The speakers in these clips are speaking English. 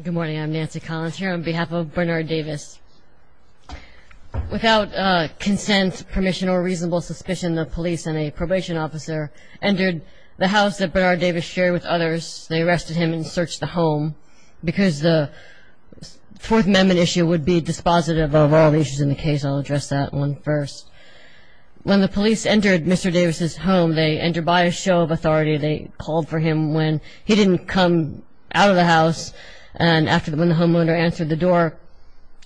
Good morning, I'm Nancy Collins here on behalf of Bernard Davis. Without consent, permission, or reasonable suspicion, the police and a probation officer entered the house that Bernard Davis shared with others. They arrested him and searched the home because the Fourth Amendment issue would be dispositive of all the issues in the case. I'll address that one first. When the police entered Mr. Davis' home, they entered by a show of authority. They called for him when he didn't come out of the house. And when the homeowner answered the door,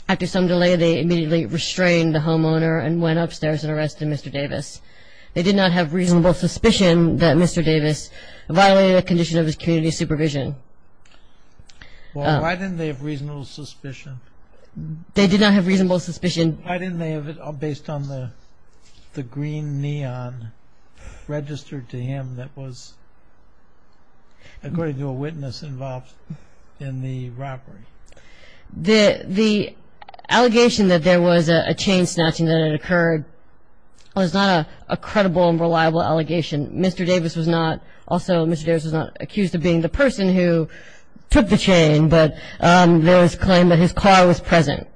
after some delay, they immediately restrained the homeowner and went upstairs and arrested Mr. Davis. They did not have reasonable suspicion that Mr. Davis violated a condition of his community supervision. Well, why didn't they have reasonable suspicion? They did not have reasonable suspicion. Why didn't they have it based on the green neon registered to him that was, according to a witness involved in the robbery? The allegation that there was a chain snatching that had occurred was not a credible and reliable allegation. Mr. Davis was not, also Mr. Davis was not accused of being the person who took the chain, but there was claim that his car was present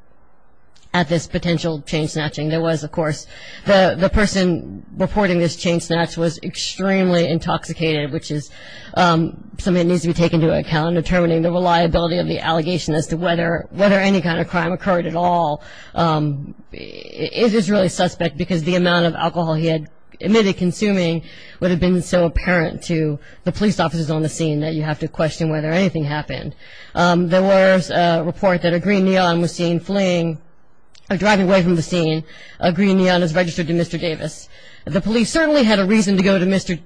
at this potential chain snatching. There was, of course, the person reporting this chain snatch was extremely intoxicated, which is something that needs to be taken into account in determining the reliability of the allegation as to whether any kind of crime occurred at all. It is really suspect because the amount of alcohol he had admitted consuming would have been so apparent to the police officers on the scene that you have to question whether anything happened. There was a report that a green neon was seen fleeing, driving away from the scene. A green neon is registered to Mr. Davis. The police certainly had a reason to go to Mr. Davis,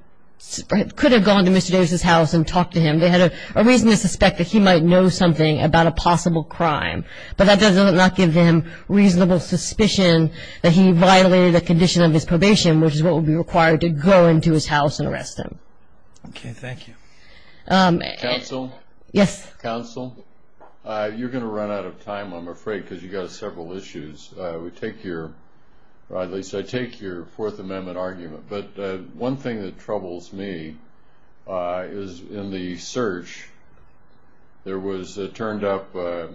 could have gone to Mr. Davis' house and talked to him. They had a reason to suspect that he might know something about a possible crime, but that does not give them reasonable suspicion that he violated a condition of his probation, which is what would be required to go into his house and arrest him. Okay, thank you. Counsel? Yes. Counsel, you're going to run out of time, I'm afraid, because you've got several issues. We take your, or at least I take your Fourth Amendment argument, but one thing that troubles me is in the search there was turned up the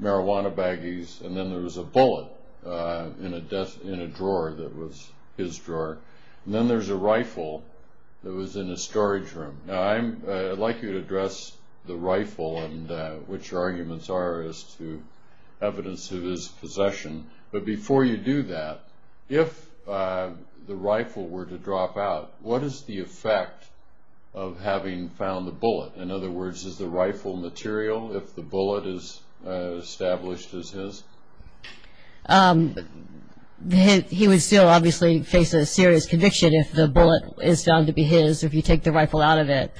marijuana baggies and then there was a bullet in a drawer that was his drawer, and then there's a rifle that was in his storage room. Now, I'd like you to address the rifle and which arguments are as to evidence of his possession, but before you do that, if the rifle were to drop out, what is the effect of having found the bullet? In other words, is the rifle material if the bullet is established as his? He would still obviously face a serious conviction if the bullet is found to be his, if you take the rifle out of it.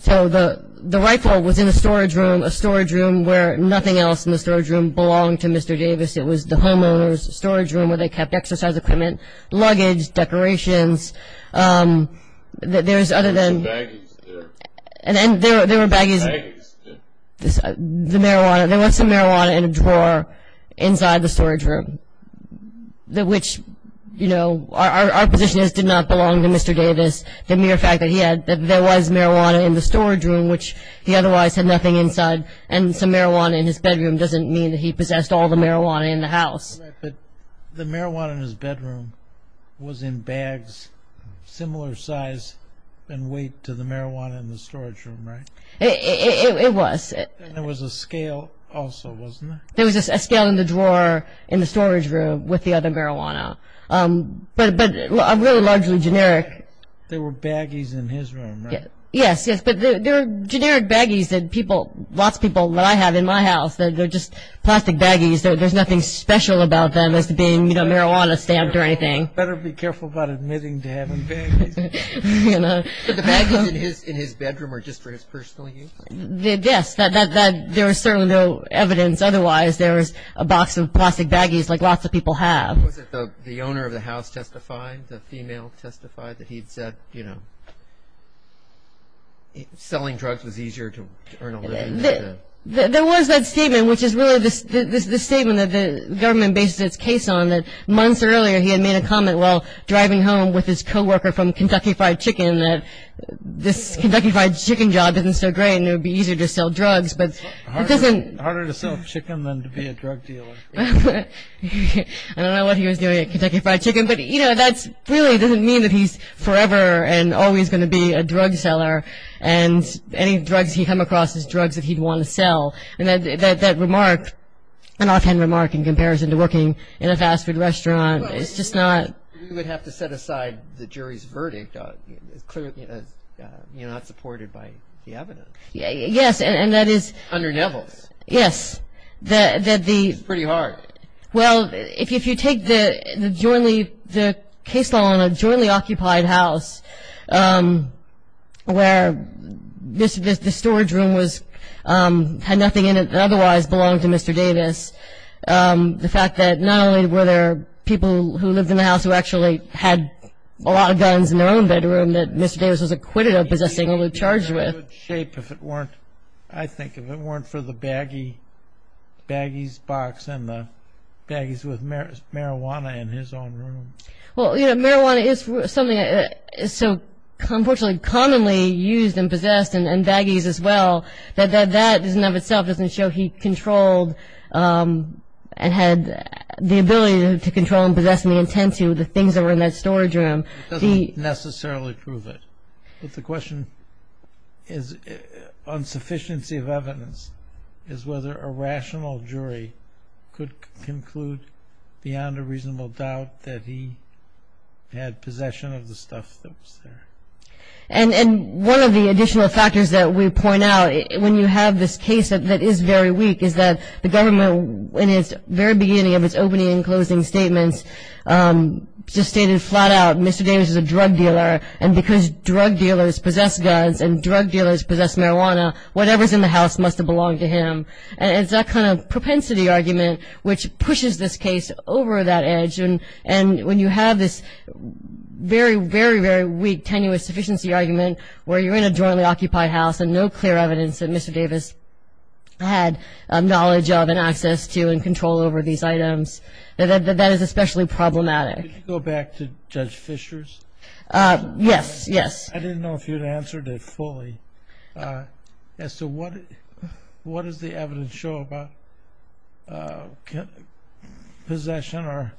So the rifle was in a storage room, a storage room where nothing else in the storage room belonged to Mr. Davis. It was the homeowner's storage room where they kept exercise equipment, luggage, decorations. There's other than, and then there were baggies, the marijuana, there was some marijuana in a drawer inside the storage room, which, you know, our position is it did not belong to Mr. Davis. The mere fact that he had, that there was marijuana in the storage room, which he otherwise had nothing inside, and some marijuana in his bedroom doesn't mean that he possessed all the marijuana in the house. But the marijuana in his bedroom was in bags similar size and weight to the marijuana in the storage room, right? It was. And there was a scale also, wasn't there? There was a scale in the drawer in the storage room with the other marijuana, but really largely generic. There were baggies in his room, right? Yes, yes, but there were generic baggies that people, lots of people that I have in my house, they're just plastic baggies. There's nothing special about them as to being, you know, marijuana stamped or anything. Better be careful about admitting to having baggies. But the baggies in his bedroom were just for his personal use? Yes, there was certainly no evidence otherwise. There was a box of plastic baggies like lots of people have. Was it the owner of the house testified, the female testified, that he'd said, you know, selling drugs was easier to earn a living? There was that statement, which is really the statement that the government bases its case on, that months earlier he had made a comment while driving home with his co-worker from Kentucky Fried Chicken that this Kentucky Fried Chicken job isn't so great and it would be easier to sell drugs, but it doesn't... Harder to sell chicken than to be a drug dealer. I don't know what he was doing at Kentucky Fried Chicken, but, you know, that really doesn't mean that he's forever and always going to be a drug seller and any drugs he'd come across as drugs that he'd want to sell. And that remark, an offhand remark in comparison to working in a fast food restaurant, it's just not... You would have to set aside the jury's verdict. Clearly, you're not supported by the evidence. Yes, and that is... Under Neville's. Yes, that the... It's pretty hard. Well, if you take the case law on a jointly occupied house where the storage room had nothing in it that otherwise belonged to Mr. Davis, the fact that not only were there people who lived in the house who actually had a lot of guns in their own bedroom that Mr. Davis was acquitted of possessing shape if it weren't, I think, if it weren't for the baggies box and the baggies with marijuana in his own room. Well, you know, marijuana is something that is so unfortunately commonly used and possessed, and baggies as well, that that in and of itself doesn't show he controlled and had the ability to control and possess and intend to the things that were in that storage room. It doesn't necessarily prove it. But the question is, on sufficiency of evidence, is whether a rational jury could conclude beyond a reasonable doubt that he had possession of the stuff that was there. And one of the additional factors that we point out when you have this case that is very weak is that the government, in its very beginning of its opening and closing statements, just stated flat out, Mr. Davis is a drug dealer, and because drug dealers possess guns and drug dealers possess marijuana, whatever is in the house must have belonged to him. And it's that kind of propensity argument which pushes this case over that edge. And when you have this very, very, very weak tenuous sufficiency argument where you're in a jointly occupied house and no clear evidence that Mr. Davis had knowledge of and access to and control over these items, that is especially problematic. Could you go back to Judge Fischer's? Yes, yes. I didn't know if you had answered it fully. As to what does the evidence show about possession or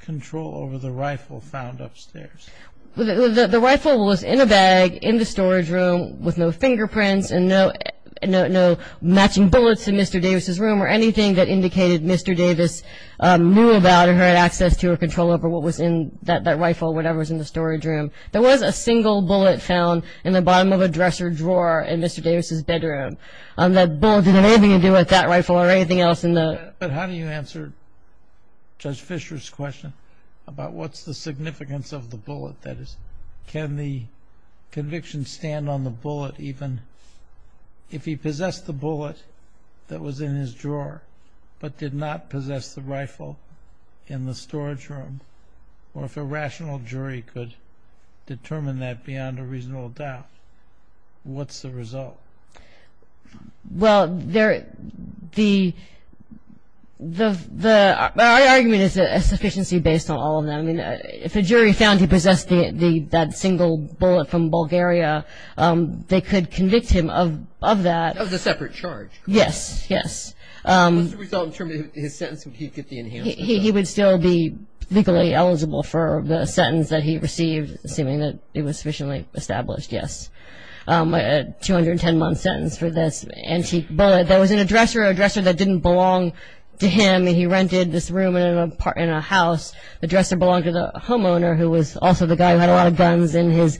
control over the rifle found upstairs? The rifle was in a bag in the storage room with no fingerprints and no matching bullets in Mr. Davis's room or anything that indicated Mr. Davis knew about or had access to or control over what was in that rifle, whatever was in the storage room. There was a single bullet found in the bottom of a dresser drawer in Mr. Davis's bedroom. That bullet didn't have anything to do with that rifle or anything else. But how do you answer Judge Fischer's question about what's the significance of the bullet? Can the conviction stand on the bullet even if he possessed the bullet that was in his drawer but did not possess the rifle in the storage room? Or if a rational jury could determine that beyond a reasonable doubt, what's the result? Well, the argument is a sufficiency based on all of them. If a jury found he possessed that single bullet from Bulgaria, they could convict him of that. Of the separate charge. Yes, yes. What's the result in terms of his sentence? Would he get the enhanced sentence? He would still be legally eligible for the sentence that he received, assuming that it was sufficiently established, yes. A 210-month sentence for this antique bullet that was in a dresser, a dresser that didn't belong to him. He rented this room in a house. The dresser belonged to the homeowner who was also the guy who had a lot of guns and was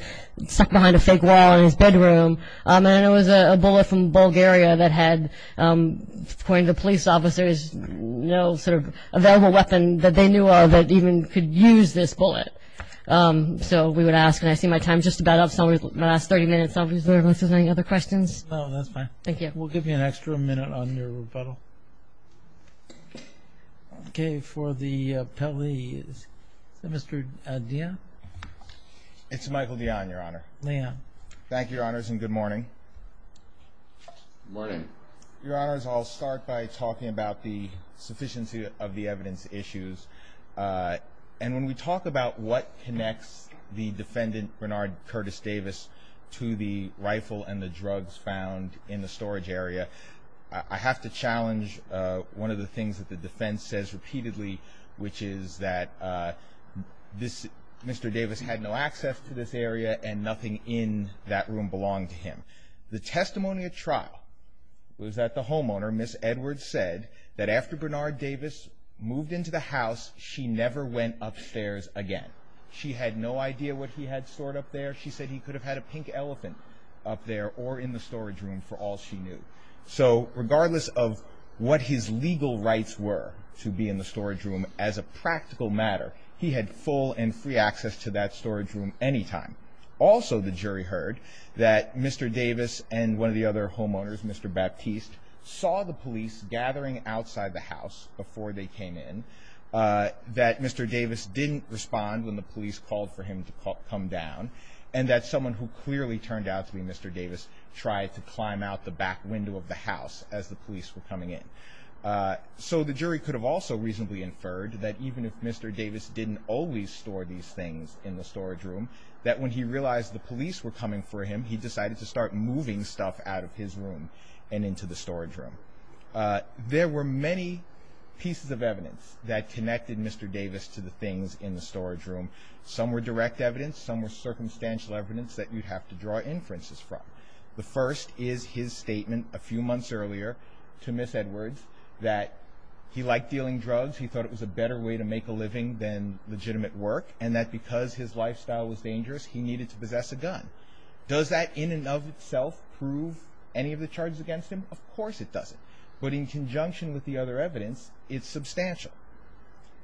stuck behind a fake wall in his bedroom. And it was a bullet from Bulgaria that had, according to police officers, no sort of available weapon that they knew of that even could use this bullet. So we would ask, and I see my time is just about up. So my last 30 minutes are reserved. Are there any other questions? No, that's fine. Thank you. We'll give you an extra minute on your rebuttal. Okay. For the police, Mr. Dion? It's Michael Dion, Your Honor. Dion. Thank you, Your Honors, and good morning. Good morning. Your Honors, I'll start by talking about the sufficiency of the evidence issues. And when we talk about what connects the defendant, Bernard Curtis Davis, to the rifle and the drugs found in the storage area, I have to challenge one of the things that the defense says repeatedly, which is that Mr. Davis had no access to this area and nothing in that room belonged to him. The testimony at trial was that the homeowner, Ms. Edwards, said that after Bernard Davis moved into the house, she never went upstairs again. She had no idea what he had stored up there. She said he could have had a pink elephant up there or in the storage room for all she knew. So regardless of what his legal rights were to be in the storage room, as a practical matter, he had full and free access to that storage room anytime. Also, the jury heard that Mr. Davis and one of the other homeowners, Mr. Baptiste, saw the police gathering outside the house before they came in, that Mr. Davis didn't respond when the police called for him to come down, and that someone who clearly turned out to be Mr. Davis tried to climb out the back window of the house as the police were coming in. So the jury could have also reasonably inferred that even if Mr. Davis didn't always store these things in the storage room, that when he realized the police were coming for him, he decided to start moving stuff out of his room and into the storage room. There were many pieces of evidence that connected Mr. Davis to the things in the storage room. Some were direct evidence, some were circumstantial evidence that you'd have to draw inferences from. The first is his statement a few months earlier to Ms. Edwards that he liked dealing drugs, he thought it was a better way to make a living than legitimate work, and that because his lifestyle was dangerous, he needed to possess a gun. Does that in and of itself prove any of the charges against him? Of course it doesn't. But in conjunction with the other evidence, it's substantial.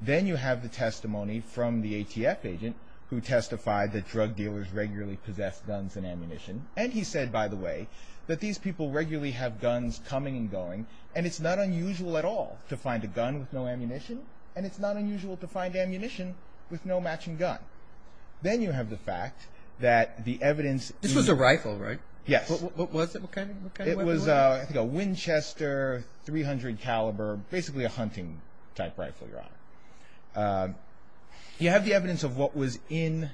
Then you have the testimony from the ATF agent who testified that drug dealers regularly possessed guns and ammunition. And he said, by the way, that these people regularly have guns coming and going, and it's not unusual at all to find a gun with no ammunition, and it's not unusual to find ammunition with no matching gun. Then you have the fact that the evidence... This was a rifle, right? Yes. What was it? It was, I think, a Winchester .300 caliber, basically a hunting-type rifle, Your Honor. You have the evidence of what was in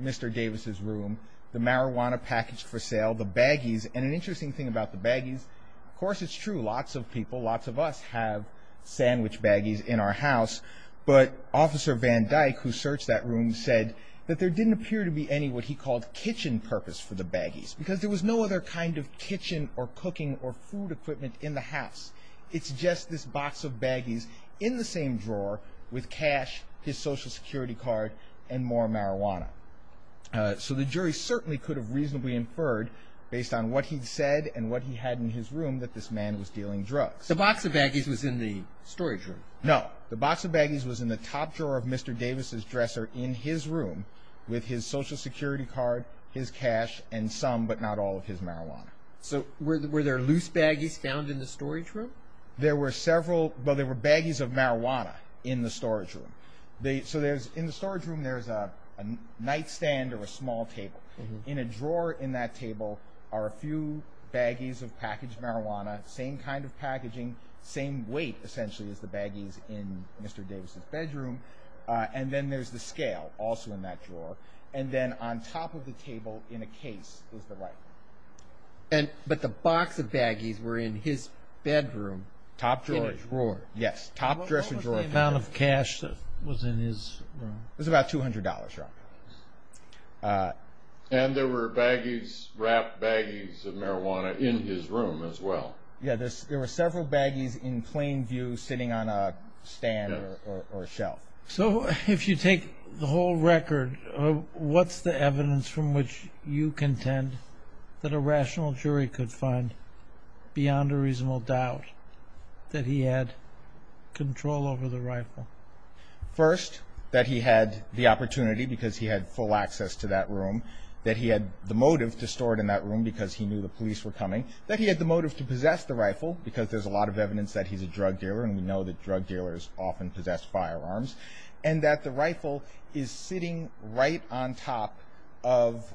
Mr. Davis' room, the marijuana packaged for sale, the baggies. And an interesting thing about the baggies, of course it's true, lots of people, lots of us have sandwich baggies in our house, but Officer Van Dyke, who searched that room, said that there didn't appear to be any what he called kitchen purpose for the baggies, because there was no other kind of kitchen or cooking or food equipment in the house. It's just this box of baggies in the same drawer with cash, his Social Security card, and more marijuana. So the jury certainly could have reasonably inferred, based on what he'd said and what he had in his room, that this man was dealing drugs. The box of baggies was in the storage room? No. The box of baggies was in the top drawer of Mr. Davis' dresser in his room with his Social Security card, his cash, and some but not all of his marijuana. So were there loose baggies found in the storage room? There were several, but there were baggies of marijuana in the storage room. So in the storage room there's a nightstand or a small table. In a drawer in that table are a few baggies of packaged marijuana, same kind of packaging, same weight, essentially, as the baggies in Mr. Davis' bedroom. And then there's the scale, also in that drawer. And then on top of the table in a case was the rifle. But the box of baggies were in his bedroom. In a drawer. Yes, top dresser drawer. What was the amount of cash that was in his room? It was about $200. And there were baggies, wrapped baggies of marijuana in his room as well. There were several baggies in plain view sitting on a stand or a shelf. So if you take the whole record, what's the evidence from which you contend that a rational jury could find, beyond a reasonable doubt, that he had control over the rifle? First, that he had the opportunity because he had full access to that room, that he had the motive to store it in that room because he knew the police were coming, that he had the motive to possess the rifle because there's a lot of evidence that he's a drug dealer and we know that drug dealers often possess firearms, and that the rifle is sitting right on top of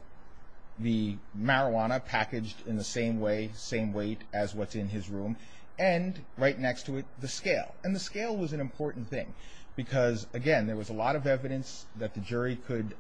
the marijuana packaged in the same way, same weight as what's in his room, and right next to it, the scale. And the scale was an important thing because, again, there was a lot of evidence that the jury could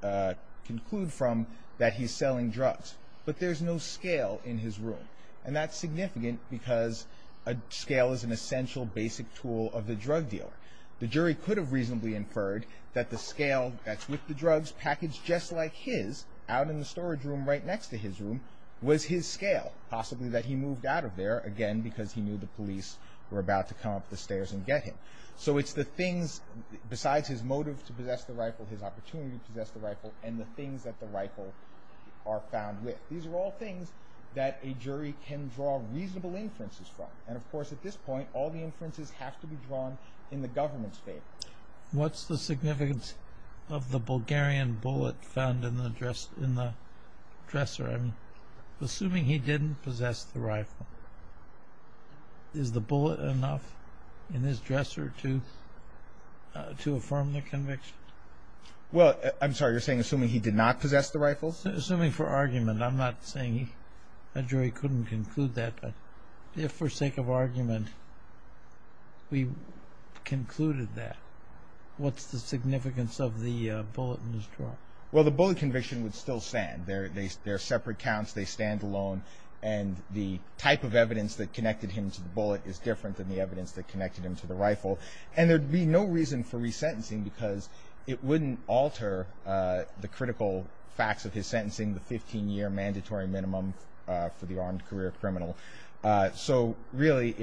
conclude from that he's selling drugs. But there's no scale in his room. And that's significant because a scale is an essential basic tool of the drug dealer. The jury could have reasonably inferred that the scale that's with the drugs, packaged just like his, out in the storage room right next to his room, was his scale. Possibly that he moved out of there, again, because he knew the police were about to come up the stairs and get him. So it's the things besides his motive to possess the rifle, his opportunity to possess the rifle, and the things that the rifle are found with. These are all things that a jury can draw reasonable inferences from. And, of course, at this point, all the inferences have to be drawn in the government's favor. What's the significance of the Bulgarian bullet found in the dresser? Assuming he didn't possess the rifle, is the bullet enough in his dresser to affirm the conviction? Well, I'm sorry, you're saying assuming he did not possess the rifle? Assuming for argument. I'm not saying a jury couldn't conclude that. But if, for sake of argument, we concluded that, what's the significance of the bullet in his drawer? Well, the bullet conviction would still stand. They're separate counts. They stand alone. And the type of evidence that connected him to the bullet is different than the evidence that connected him to the rifle. And there'd be no reason for resentencing because it wouldn't alter the critical facts of his sentencing, the 15-year mandatory minimum for the armed career criminal. So, really,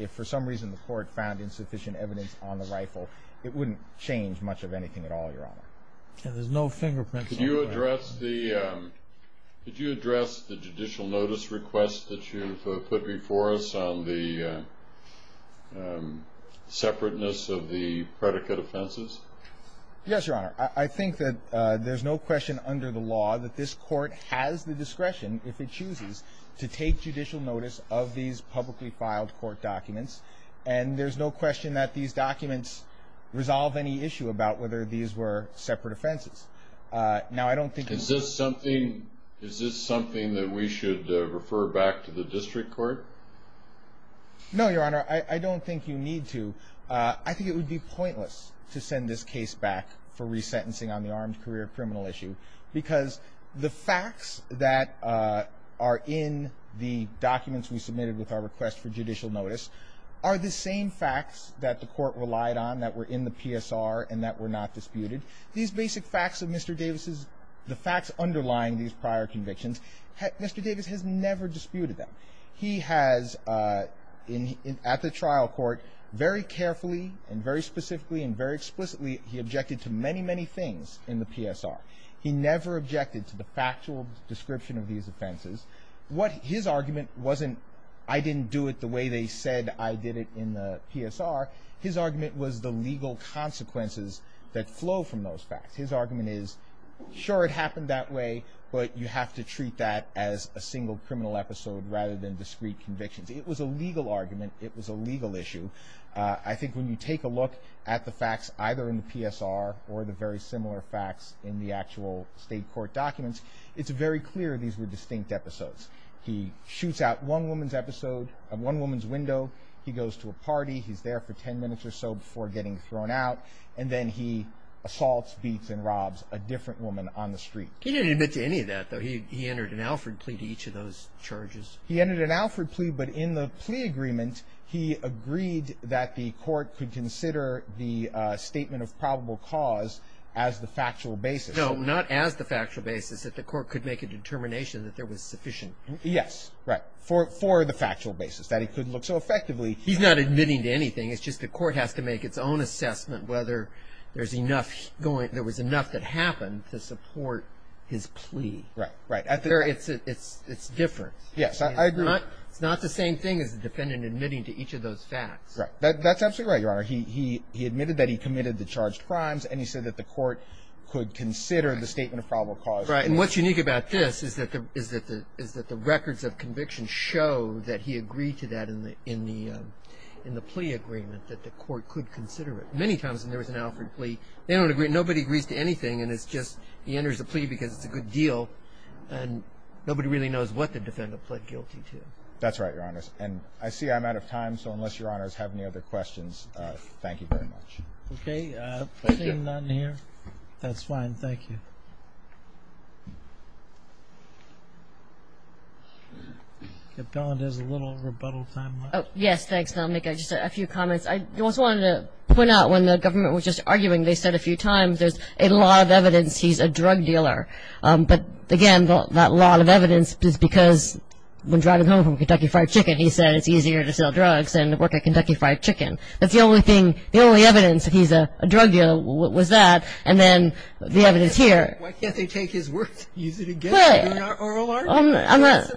if for some reason the court found insufficient evidence on the rifle, it wouldn't change much of anything at all, Your Honor. There's no fingerprints on the rifle. Did you address the judicial notice request that you put before us on the separateness of the predicate offenses? Yes, Your Honor. I think that there's no question under the law that this court has the discretion, if it chooses, to take judicial notice of these publicly filed court documents. And there's no question that these documents resolve any issue about whether these were separate offenses. Is this something that we should refer back to the district court? No, Your Honor. I don't think you need to. I think it would be pointless to send this case back for resentencing on the armed career criminal issue because the facts that are in the documents we submitted with our request for judicial notice are the same facts that the court relied on that were in the PSR and that were not disputed. These basic facts of Mr. Davis's, the facts underlying these prior convictions, Mr. Davis has never disputed them. He has, at the trial court, very carefully and very specifically and very explicitly, he objected to many, many things in the PSR. He never objected to the factual description of these offenses. What his argument wasn't, I didn't do it the way they said I did it in the PSR. His argument was the legal consequences that flow from those facts. His argument is, sure, it happened that way, but you have to treat that as a single criminal episode rather than discrete convictions. It was a legal argument. It was a legal issue. I think when you take a look at the facts either in the PSR or the very similar facts in the actual state court documents, it's very clear these were distinct episodes. He shoots out one woman's episode, one woman's window. He goes to a party. He's there for 10 minutes or so before getting thrown out, and then he assaults, beats, and robs a different woman on the street. He didn't admit to any of that, though. He entered an Alford plea to each of those charges. He entered an Alford plea, but in the plea agreement, he agreed that the court could consider the statement of probable cause as the factual basis. No, not as the factual basis, that the court could make a determination that there was sufficient. Yes, right, for the factual basis, that he could look. So effectively— He's not admitting to anything. It's just the court has to make its own assessment whether there was enough that happened to support his plea. Right, right. It's different. Yes, I agree. It's not the same thing as the defendant admitting to each of those facts. Right. That's absolutely right, Your Honor. He admitted that he committed the charged crimes, and he said that the court could consider the statement of probable cause. Right, and what's unique about this is that the records of conviction show that he agreed to that in the plea agreement, that the court could consider it. Many times when there was an Alford plea, nobody agrees to anything, and it's just he enters a plea because it's a good deal, and nobody really knows what the defendant pled guilty to. That's right, Your Honors. And I see I'm out of time, so unless Your Honors have any other questions, thank you very much. Okay. Thank you. Is there a question down here? That's fine. Thank you. If not, there's a little rebuttal time left. Yes, thanks. I'll make just a few comments. I also wanted to point out when the government was just arguing, they said a few times there's a lot of evidence he's a drug dealer. But, again, that lot of evidence is because when driving home from Kentucky Fried Chicken, he said it's easier to sell drugs than to work at Kentucky Fried Chicken. That's the only thing, the only evidence that he's a drug dealer was that. And then the evidence here. Why can't they take his words and use it again? But I'm not.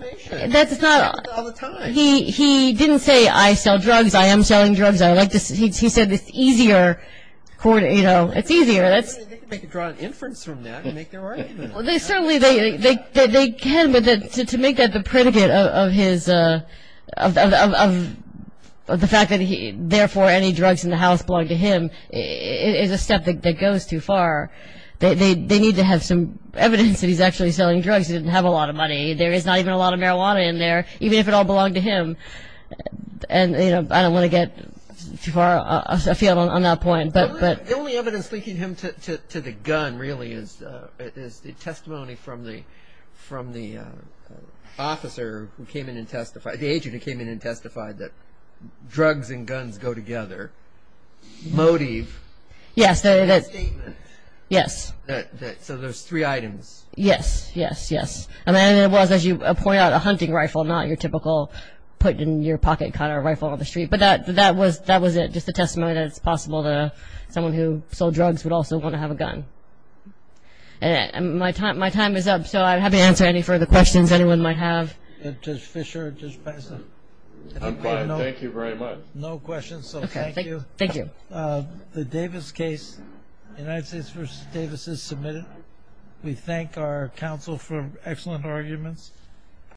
That's not. He didn't say I sell drugs, I am selling drugs. He said it's easier, you know, it's easier. They could draw an inference from that and make their argument. Well, certainly they can, but to make that the predicate of the fact that, therefore, any drugs in the house belong to him is a step that goes too far. They need to have some evidence that he's actually selling drugs. He doesn't have a lot of money. There is not even a lot of marijuana in there, even if it all belonged to him. And, you know, I don't want to get too far afield on that point. The only evidence linking him to the gun, really, is the testimony from the officer who came in and testified, the agent who came in and testified that drugs and guns go together. Motive. Yes. Statement. Yes. So there's three items. Yes, yes, yes. And it was, as you point out, a hunting rifle, not your typical put-in-your-pocket kind of rifle on the street. But that was it, just the testimony that it's possible that someone who sold drugs would also want to have a gun. And my time is up, so I'm happy to answer any further questions anyone might have. Judge Fischer, Judge Peza. I'm fine. Thank you very much. No questions, so thank you. Okay. Thank you. The Davis case, United States v. Davis, is submitted. We thank our counsel for excellent arguments.